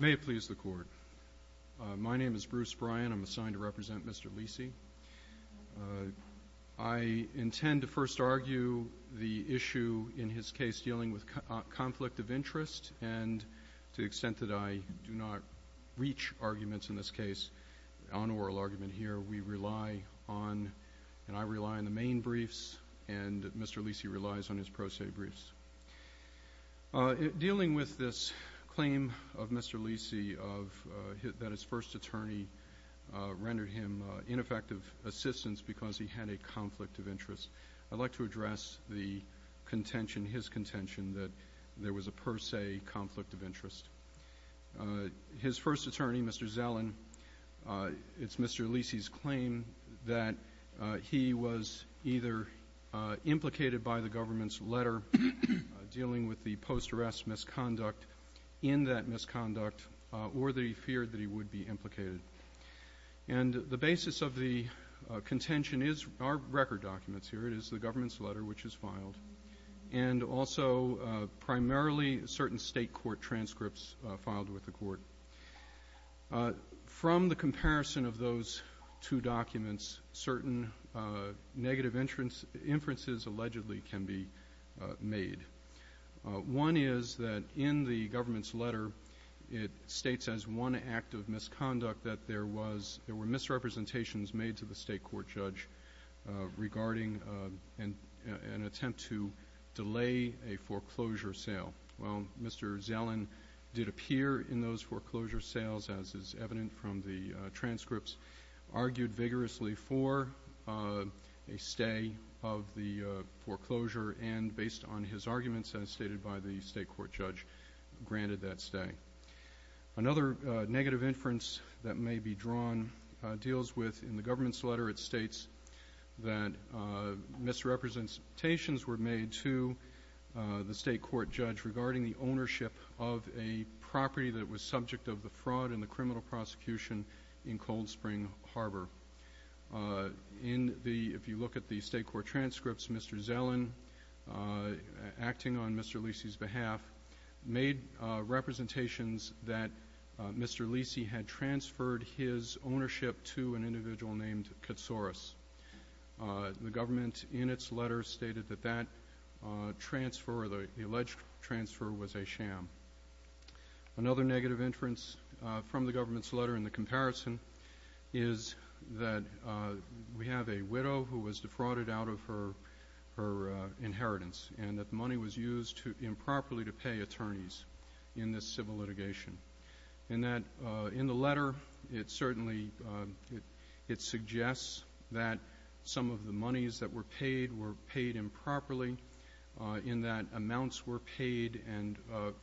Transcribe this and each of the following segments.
May it please the Court. My name is Bruce Bryan. I'm assigned to represent Mr. Leacy. I intend to first argue the issue in his case dealing with conflict of interest, and to the extent that I do not reach arguments in this case on oral argument here, we rely on, and I rely on, the main briefs, and Mr. Leacy relies on his pro se briefs. Dealing with this claim of Mr. Leacy that his first attorney rendered him ineffective assistance because he had a conflict of interest, I'd like to address the contention, his contention, that there was a per se conflict of interest. His first attorney, Mr. Zellin, it's Mr. Leacy's claim that he was either implicated by the government's letter dealing with the post-arrest misconduct, in that misconduct, or that he feared that he would be implicated. And the basis of the contention is our record documents here. It is the government's letter, which is filed, and also primarily certain state court transcripts filed with the court. From the comparison of those two documents, certain negative inferences allegedly can be made. One is that in the government's letter it states as one act of misconduct that there was, there were misrepresentations made to the state court judge regarding an attempt to delay a foreclosure sale. Well, Mr. Zellin did appear in those foreclosure sales, as is evident from the transcripts, argued vigorously for a stay of the foreclosure, and based on his arguments as stated by the state court judge, granted that stay. Another negative inference that may be drawn deals with, in the government's letter, it states that misrepresentations were made to the state court judge regarding the ownership of a property that was subject of the fraud and the criminal prosecution in Cold Spring Harbor. In the, if you look at the state court transcripts, Mr. Zellin, acting on Mr. Lisi's behalf, made representations that Mr. Lisi had transferred his ownership to an individual named Katsouris. The government, in its letter, stated that that transfer, the alleged transfer, was a sham. Another negative inference from the government's letter in the comparison is that we have a widow who was defrauded out of her inheritance, and that the money was used improperly to pay attorneys in this civil litigation. In that, in the letter, it certainly, it suggests that some of the monies that were paid were paid improperly, in that amounts were paid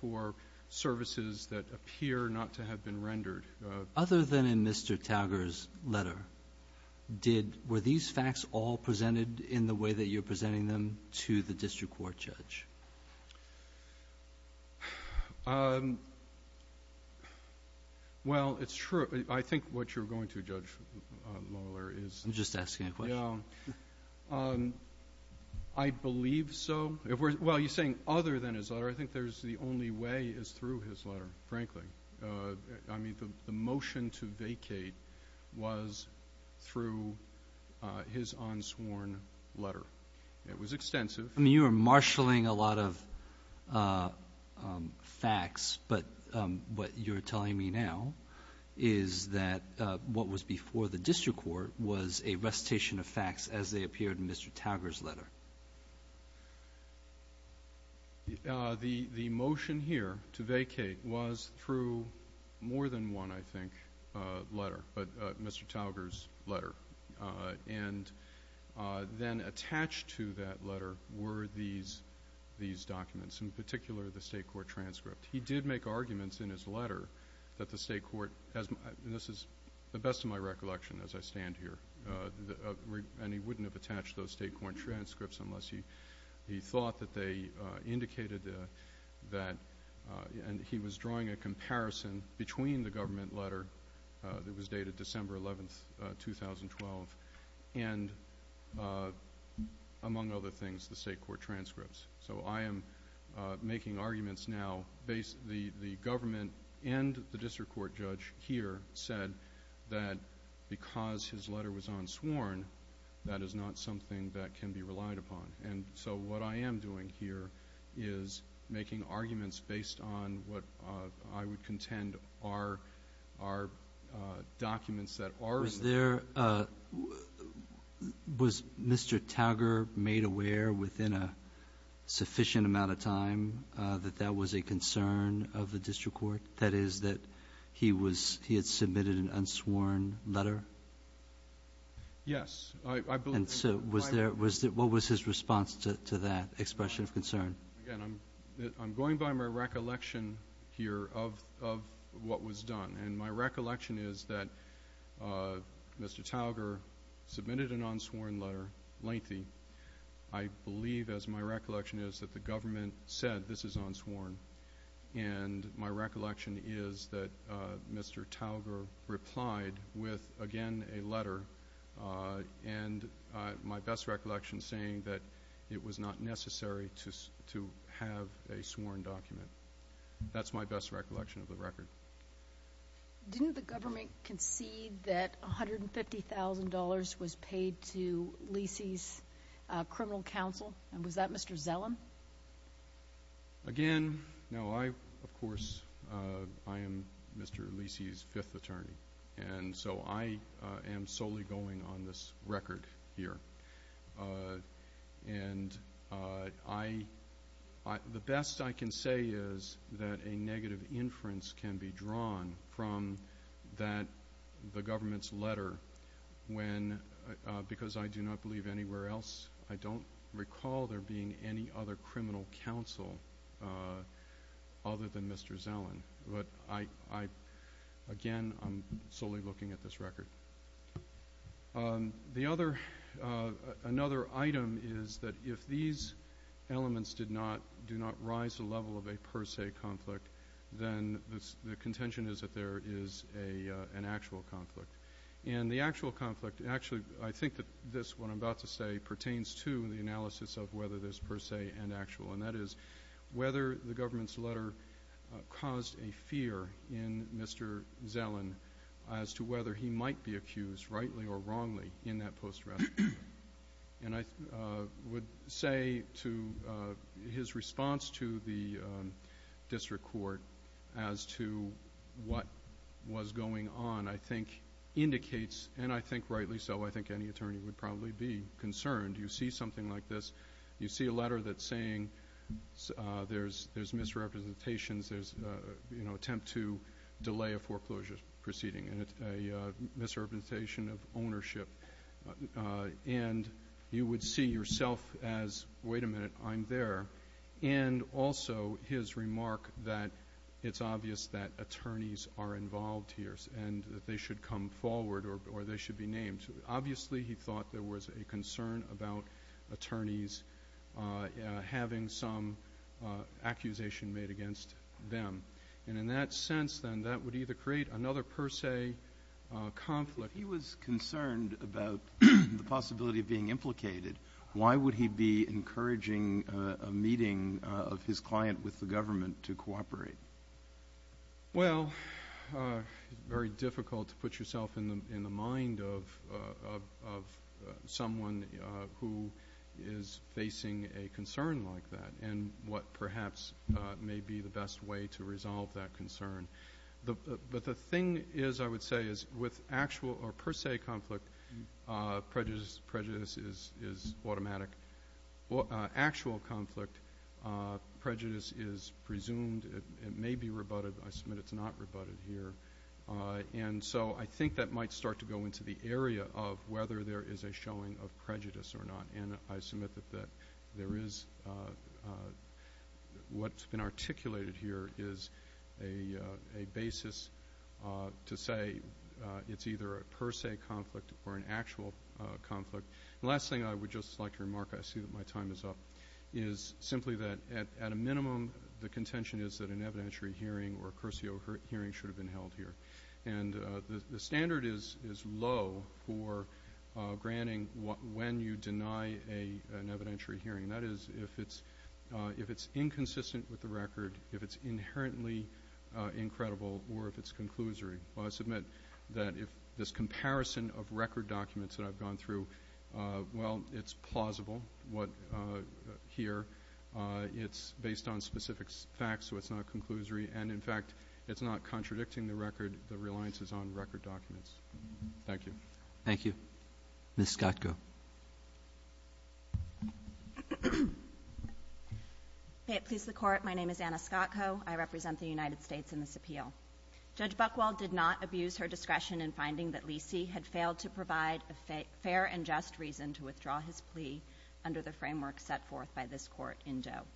for services that appear not to have been rendered. Kagan. Other than in Mr. Talger's letter, did, were these facts all presented in the way that you're presenting them to the district court judge? Well, it's true. I think what you're going to, Judge Mohler, is the question. I'm just asking a question. Yeah. I believe so. Well, you're saying other than his letter. I think there's the only way is through his letter, frankly. I mean, the motion to vacate was through his unsworn letter. It was extensive. I mean, you were marshaling a lot of facts, but what you're telling me now is that what was before the district court was a recitation of facts as they appeared in Mr. Talger's letter. Okay. The motion here to vacate was through more than one, I think, letter, Mr. Talger's letter. And then attached to that letter were these documents, in particular the state court transcript. He did make arguments in his letter that the state court, and this is the best of my recollection as I stand here, and he wouldn't have attached those state court transcripts unless he thought that they indicated that, and he was drawing a comparison between the government letter that was dated December 11, 2012, and, among other things, the state court transcripts. So I am making arguments now. The government and the district court judge here said that because his letter was unsworn, that is not something that can be relied upon. And so what I am doing here is making arguments based on what I would contend are documents that are. Was Mr. Talger made aware within a sufficient amount of time that that was a concern of the district court, that is that he had submitted an unsworn letter? Yes. And so what was his response to that expression of concern? Again, I'm going by my recollection here of what was done. And my recollection is that Mr. Talger submitted an unsworn letter, lengthy. I believe, as my recollection is, that the government said this is unsworn, and my recollection is that Mr. Talger replied with, again, a letter, and my best recollection saying that it was not necessary to have a sworn document. That's my best recollection of the record. Didn't the government concede that $150,000 was paid to Leecey's criminal counsel? And was that Mr. Zellum? Again, no, I, of course, I am Mr. Leecey's fifth attorney. And so I am solely going on this record here. And the best I can say is that a negative inference can be drawn from the government's letter, because I do not believe anywhere else, I don't recall there being any other criminal counsel other than Mr. Zellum. But, again, I'm solely looking at this record. The other, another item is that if these elements do not rise to the level of a per se conflict, then the contention is that there is an actual conflict. And the actual conflict, actually, I think that this, what I'm about to say, pertains to the analysis of whether this is per se and actual, and that is whether the government's letter caused a fear in Mr. Zellum as to whether he might be accused rightly or wrongly in that post-traumatic stress disorder. And I would say to his response to the district court as to what was going on, I think, indicates, and I think rightly so, I think any attorney would probably be concerned. You see something like this, you see a letter that's saying there's misrepresentations, there's an attempt to delay a foreclosure proceeding, and it's a misrepresentation of ownership. And you would see yourself as, wait a minute, I'm there. And also his remark that it's obvious that attorneys are involved here and that they should come forward or they should be named. Obviously he thought there was a concern about attorneys having some accusation made against them. And in that sense, then, that would either create another per se conflict. If he was concerned about the possibility of being implicated, why would he be encouraging a meeting of his client with the government to cooperate? Well, it's very difficult to put yourself in the mind of someone who is facing a concern like that and what perhaps may be the best way to resolve that concern. But the thing is, I would say, is with actual or per se conflict, prejudice is automatic. Actual conflict, prejudice is presumed. It may be rebutted. I submit it's not rebutted here. And so I think that might start to go into the area of whether there is a showing of prejudice or not. And I submit that what's been articulated here is a basis to say it's either a per se conflict or an actual conflict. The last thing I would just like to remark, I see that my time is up, is simply that at a minimum the contention is that an evidentiary hearing or a cursio hearing should have been held here. And the standard is low for granting when you deny an evidentiary hearing. That is, if it's inconsistent with the record, if it's inherently incredible, or if it's conclusory. I submit that if this comparison of record documents that I've gone through, well, it's plausible here. It's based on specific facts, so it's not conclusory. And, in fact, it's not contradicting the record, the reliances on record documents. Thank you. Thank you. Ms. Scottko. May it please the Court, my name is Anna Scottko. I represent the United States in this appeal. Judge Buchwald did not abuse her discretion in finding that Leecey had failed to provide a fair and just reason to withdraw his plea under the framework set forth by this Court in Doe.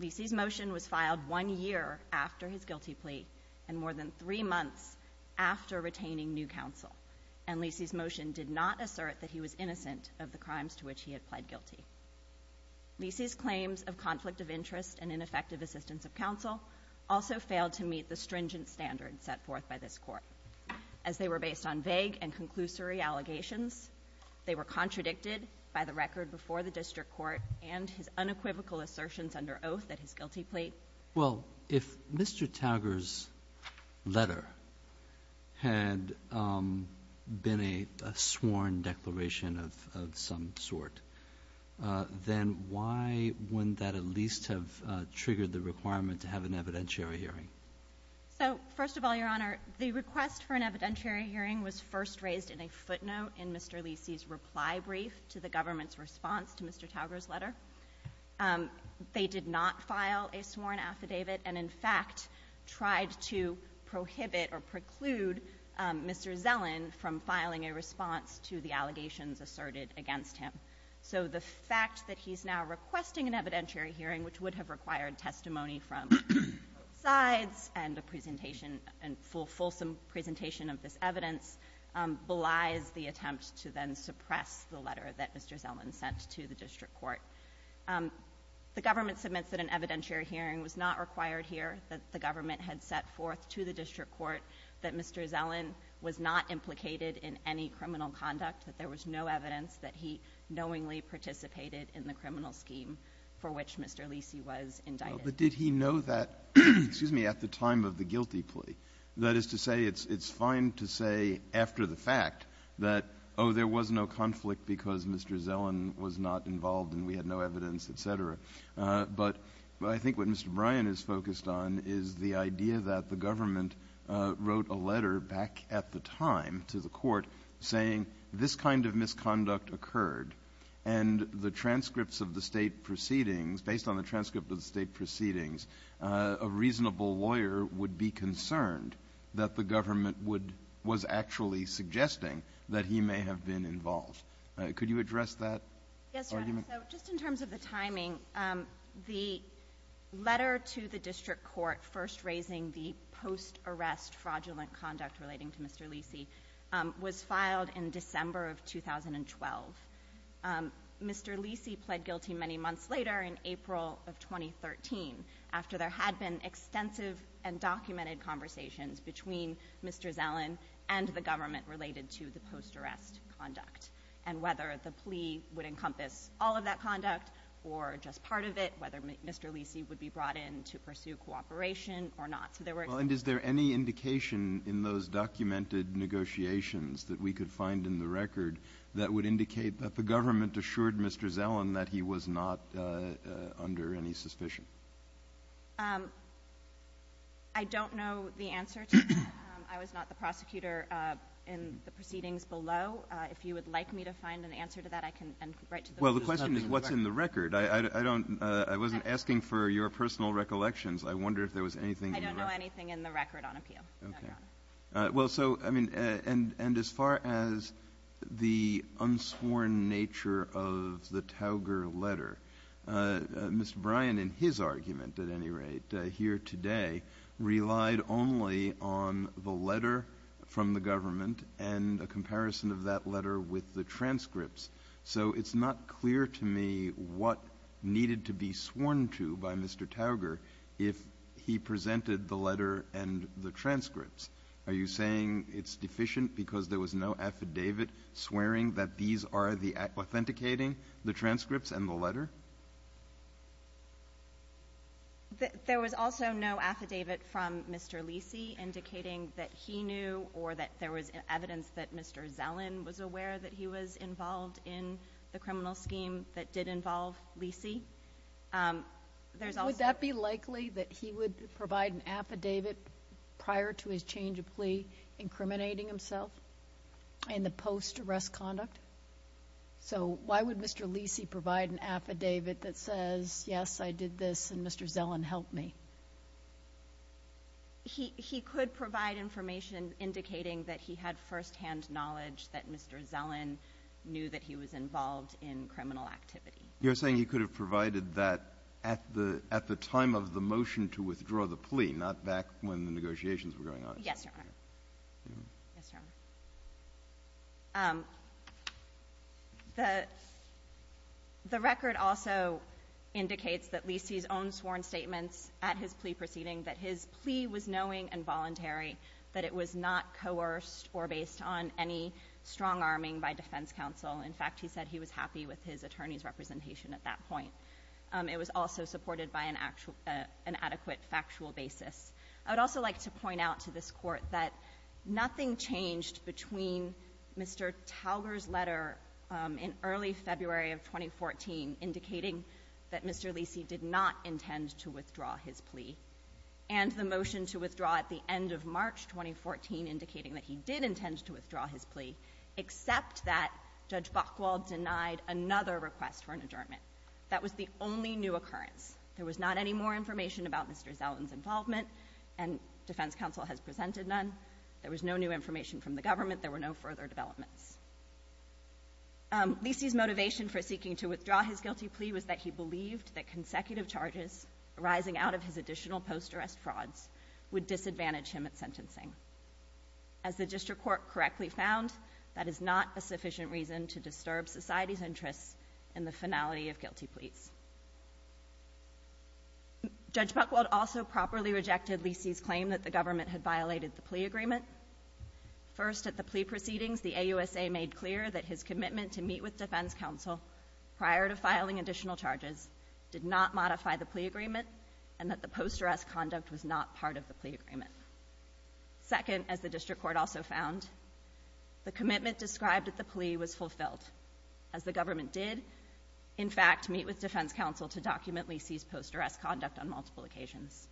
Leecey's motion was filed one year after his guilty plea and more than three months after retaining new counsel. And Leecey's motion did not assert that he was innocent of the crimes to which he had pled guilty. Leecey's claims of conflict of interest and ineffective assistance of counsel also failed to meet the stringent standards set forth by this Court. As they were based on vague and conclusory allegations, they were contradicted by the record before the district court and his unequivocal assertions under oath at his guilty plea. Well, if Mr. Tauger's letter had been a sworn declaration of some sort, then why wouldn't that at least have triggered the requirement to have an evidentiary hearing? So, first of all, Your Honor, the request for an evidentiary hearing was first raised in a footnote in Mr. Leecey's reply brief to the government's response to Mr. Tauger's letter. They did not file a sworn affidavit and, in fact, tried to prohibit or preclude Mr. Zellin from filing a response to the allegations asserted against him. So the fact that he's now requesting an evidentiary hearing, which would have required testimony from both sides and a presentation, a fulsome presentation of this evidence, belies the attempt to then suppress the letter that Mr. Zellin sent to the district court. The government submits that an evidentiary hearing was not required here, that the government had set forth to the district court that Mr. Zellin was not implicated in any criminal conduct, that there was no evidence that he knowingly participated in the criminal scheme for which Mr. Leecey was indicted. But did he know that, excuse me, at the time of the guilty plea? That is to say it's fine to say after the fact that, oh, there was no conflict because Mr. Zellin was not involved and we had no evidence, et cetera. But I think what Mr. Bryan is focused on is the idea that the government wrote a letter back at the time to the court saying this kind of misconduct occurred and the transcripts of the State proceedings, based on the transcript of the State proceedings, a reasonable lawyer would be concerned that the government was actually suggesting that he may have been involved. Could you address that argument? Yes, Your Honor. So just in terms of the timing, the letter to the district court first raising the post-arrest fraudulent conduct relating to Mr. Leecey was filed in December of 2012. Mr. Leecey pled guilty many months later in April of 2013, after there had been extensive and documented conversations between Mr. Zellin and the government related to the post-arrest conduct, and whether the plea would encompass all of that conduct or just part of it, whether Mr. Leecey would be brought in to pursue cooperation or not. So there were extensions. Well, and is there any indication in those documented negotiations that we could find in the record that would indicate that the government assured Mr. Zellin that he was not under any suspicion? I don't know the answer to that. I was not the prosecutor in the proceedings below. If you would like me to find an answer to that, I can write to the person who's not in the record. Well, the question is what's in the record. I don't — I wasn't asking for your personal recollections. I wonder if there was anything in the record. I don't know anything in the record on appeal, Your Honor. Okay. Well, so, I mean, and as far as the unsworn nature of the Tauger letter, Mr. Bryan, in his argument at any rate, here today, relied only on the letter from the government and a comparison of that letter with the transcripts. So it's not clear to me what needed to be sworn to by Mr. Tauger if he presented the letter and the transcripts. Are you saying it's deficient because there was no affidavit swearing that these are the — authenticating the transcripts and the letter? There was also no affidavit from Mr. Lisi indicating that he knew or that there was evidence that Mr. Zellin was aware that he was involved in the criminal scheme that did involve Lisi. There's also — Would that be likely, that he would provide an affidavit prior to his change of plea incriminating himself in the post-arrest conduct? So why would Mr. Lisi provide an affidavit that says, yes, I did this and Mr. Zellin helped me? He could provide information indicating that he had firsthand knowledge that Mr. Zellin knew that he was involved in criminal activity. You're saying he could have provided that at the time of the motion to withdraw the plea, not back when the negotiations were going on? Yes, Your Honor. The record also indicates that Lisi's own sworn statements at his plea proceeding, that his plea was knowing and voluntary, that it was not coerced or based on any strong arming by defense counsel. In fact, he said he was happy with his attorney's representation at that point. It was also supported by an adequate factual basis. I would also like to point out to this Court that nothing changed between Mr. Talger's letter in early February of 2014 indicating that Mr. Lisi did not intend to withdraw his plea, and the motion to withdraw at the end of March 2014 indicating that he did intend to withdraw his plea, except that Judge Buchwald denied another request for an adjournment. That was the only new occurrence. There was not any more information about Mr. Zellin's involvement, and defense counsel has presented none. There was no new information from the government. There were no further developments. Lisi's motivation for seeking to withdraw his guilty plea was that he believed that consecutive charges arising out of his additional post-arrest frauds would disadvantage him at sentencing. As the District Court correctly found, that is not a Judge Buchwald also properly rejected Lisi's claim that the government had violated the plea agreement. First, at the plea proceedings, the AUSA made clear that his commitment to meet with defense counsel prior to filing additional charges did not modify the plea agreement and that the post-arrest conduct was not part of the plea agreement. Second, as the District Court also found, the commitment described at the plea was on multiple occasions.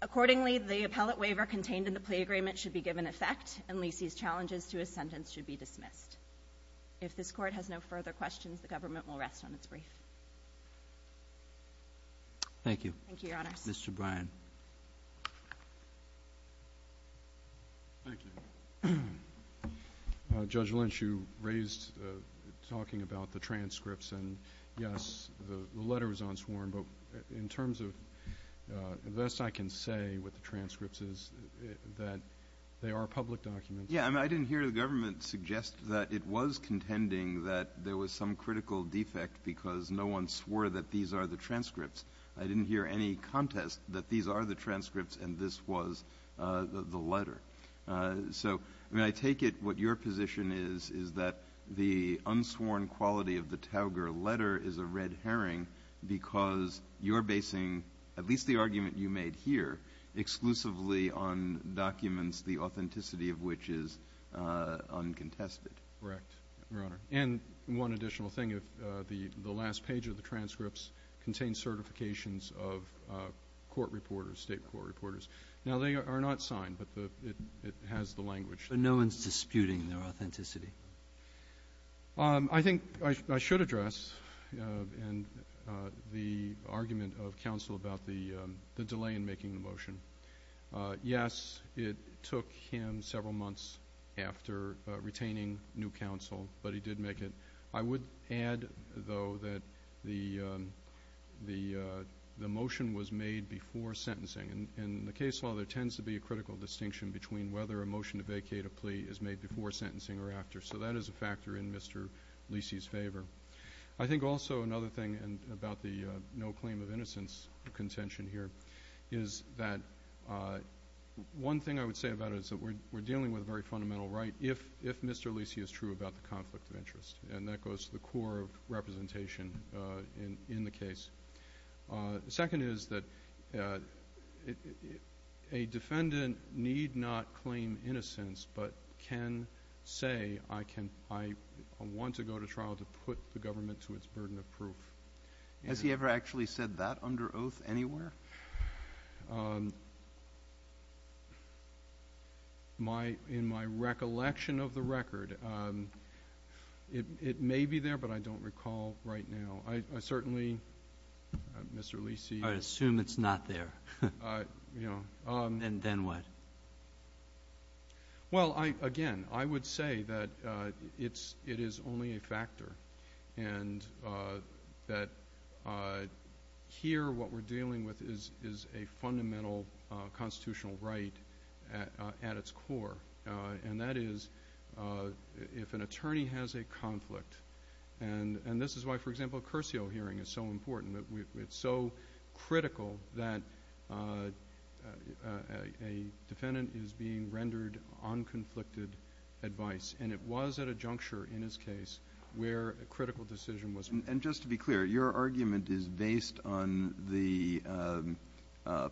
Accordingly, the appellate waiver contained in the plea agreement should be given effect, and Lisi's challenges to his sentence should be dismissed. If this Court has no further questions, the government will rest on its brief. Thank you. Thank you, Your Honors. Mr. Bryan. Thank you. Judge Lynch, you raised talking about the transcripts. And, yes, the letter was unsworn. But in terms of the best I can say with the transcripts is that they are public documents. Yes. I mean, I didn't hear the government suggest that it was contending that there was some critical defect because no one swore that these are the transcripts. I didn't hear any contest that these are the transcripts and this was the letter. So, I mean, I take it what your position is is that the unsworn quality of the Tauger letter is a red herring because you're basing at least the argument you made here exclusively on documents the authenticity of which is uncontested. Correct, Your Honor. And one additional thing, the last page of the transcripts contains certifications of court reporters, state court reporters. Now, they are not signed, but it has the language. But no one's disputing their authenticity. I think I should address the argument of counsel about the delay in making the motion. Yes, it took him several months after retaining new counsel, but he did make it. I would add, though, that the motion was made before sentencing. In the case law, there tends to be a critical distinction between whether a motion to vacate a plea is made before sentencing or after. So that is a factor in Mr. Lisi's favor. I think also another thing about the no claim of innocence contention here is that one thing I would say about it is that we're dealing with a very fundamental right if Mr. Lisi is true about the conflict of interest. And that goes to the core of representation in the case. The second is that a defendant need not claim innocence but can say, I want to go to trial to put the government to its burden of proof. Has he ever actually said that under oath anywhere? In my recollection of the record, it may be there, but I don't recall right now. I certainly, Mr. Lisi. I assume it's not there. And then what? Well, again, I would say that it is only a factor and that here what we're dealing with is a fundamental constitutional right at its core. And that is if an attorney has a conflict, and this is why, for example, a Curcio hearing is so important. It's so critical that a defendant is being rendered on conflicted advice. And it was at a juncture in his case where a critical decision was made. And just to be clear, your argument is based on the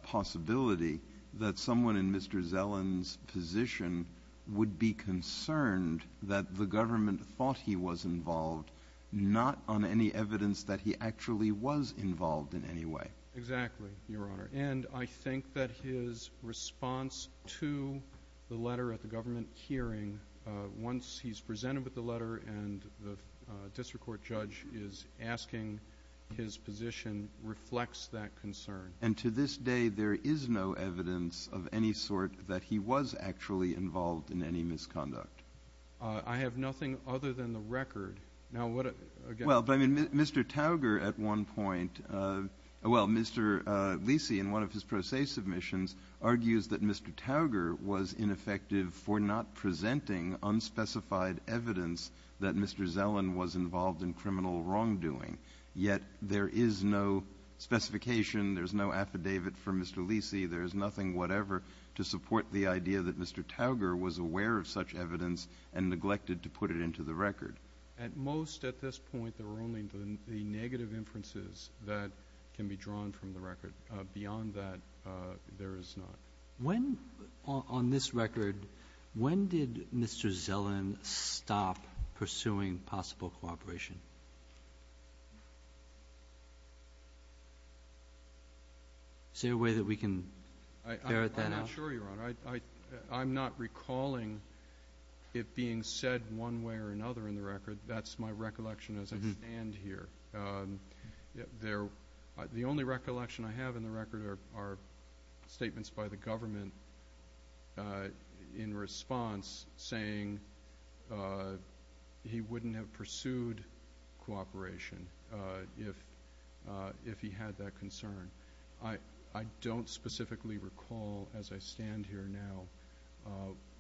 possibility that someone in Mr. Zelen's position would be concerned that the government thought he was involved, not on any evidence that he actually was involved in any way. Exactly, Your Honor. And I think that his response to the letter at the government hearing, once he's presented with the letter and the district court judge is asking his position, reflects that concern. And to this day there is no evidence of any sort that he was actually involved in any misconduct? Well, I mean, Mr. Tauger at one point, well, Mr. Lisi in one of his pro se submissions, argues that Mr. Tauger was ineffective for not presenting unspecified evidence that Mr. Zelen was involved in criminal wrongdoing. Yet there is no specification, there's no affidavit for Mr. Lisi, there's nothing whatever to support the idea that Mr. Tauger was aware of such evidence and neglected to put it into the record. At most at this point there are only the negative inferences that can be drawn from the record. Beyond that, there is not. When, on this record, when did Mr. Zelen stop pursuing possible cooperation? Is there a way that we can ferret that out? I'm not sure, Your Honor. I'm not recalling it being said one way or another in the record. That's my recollection as I stand here. The only recollection I have in the record are statements by the government in response, saying he wouldn't have pursued cooperation if he had that concern. I don't specifically recall as I stand here now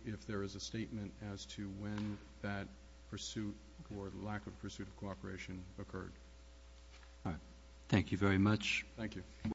if there is a statement as to when that pursuit or lack of pursuit of cooperation occurred. All right. Thank you very much. Thank you.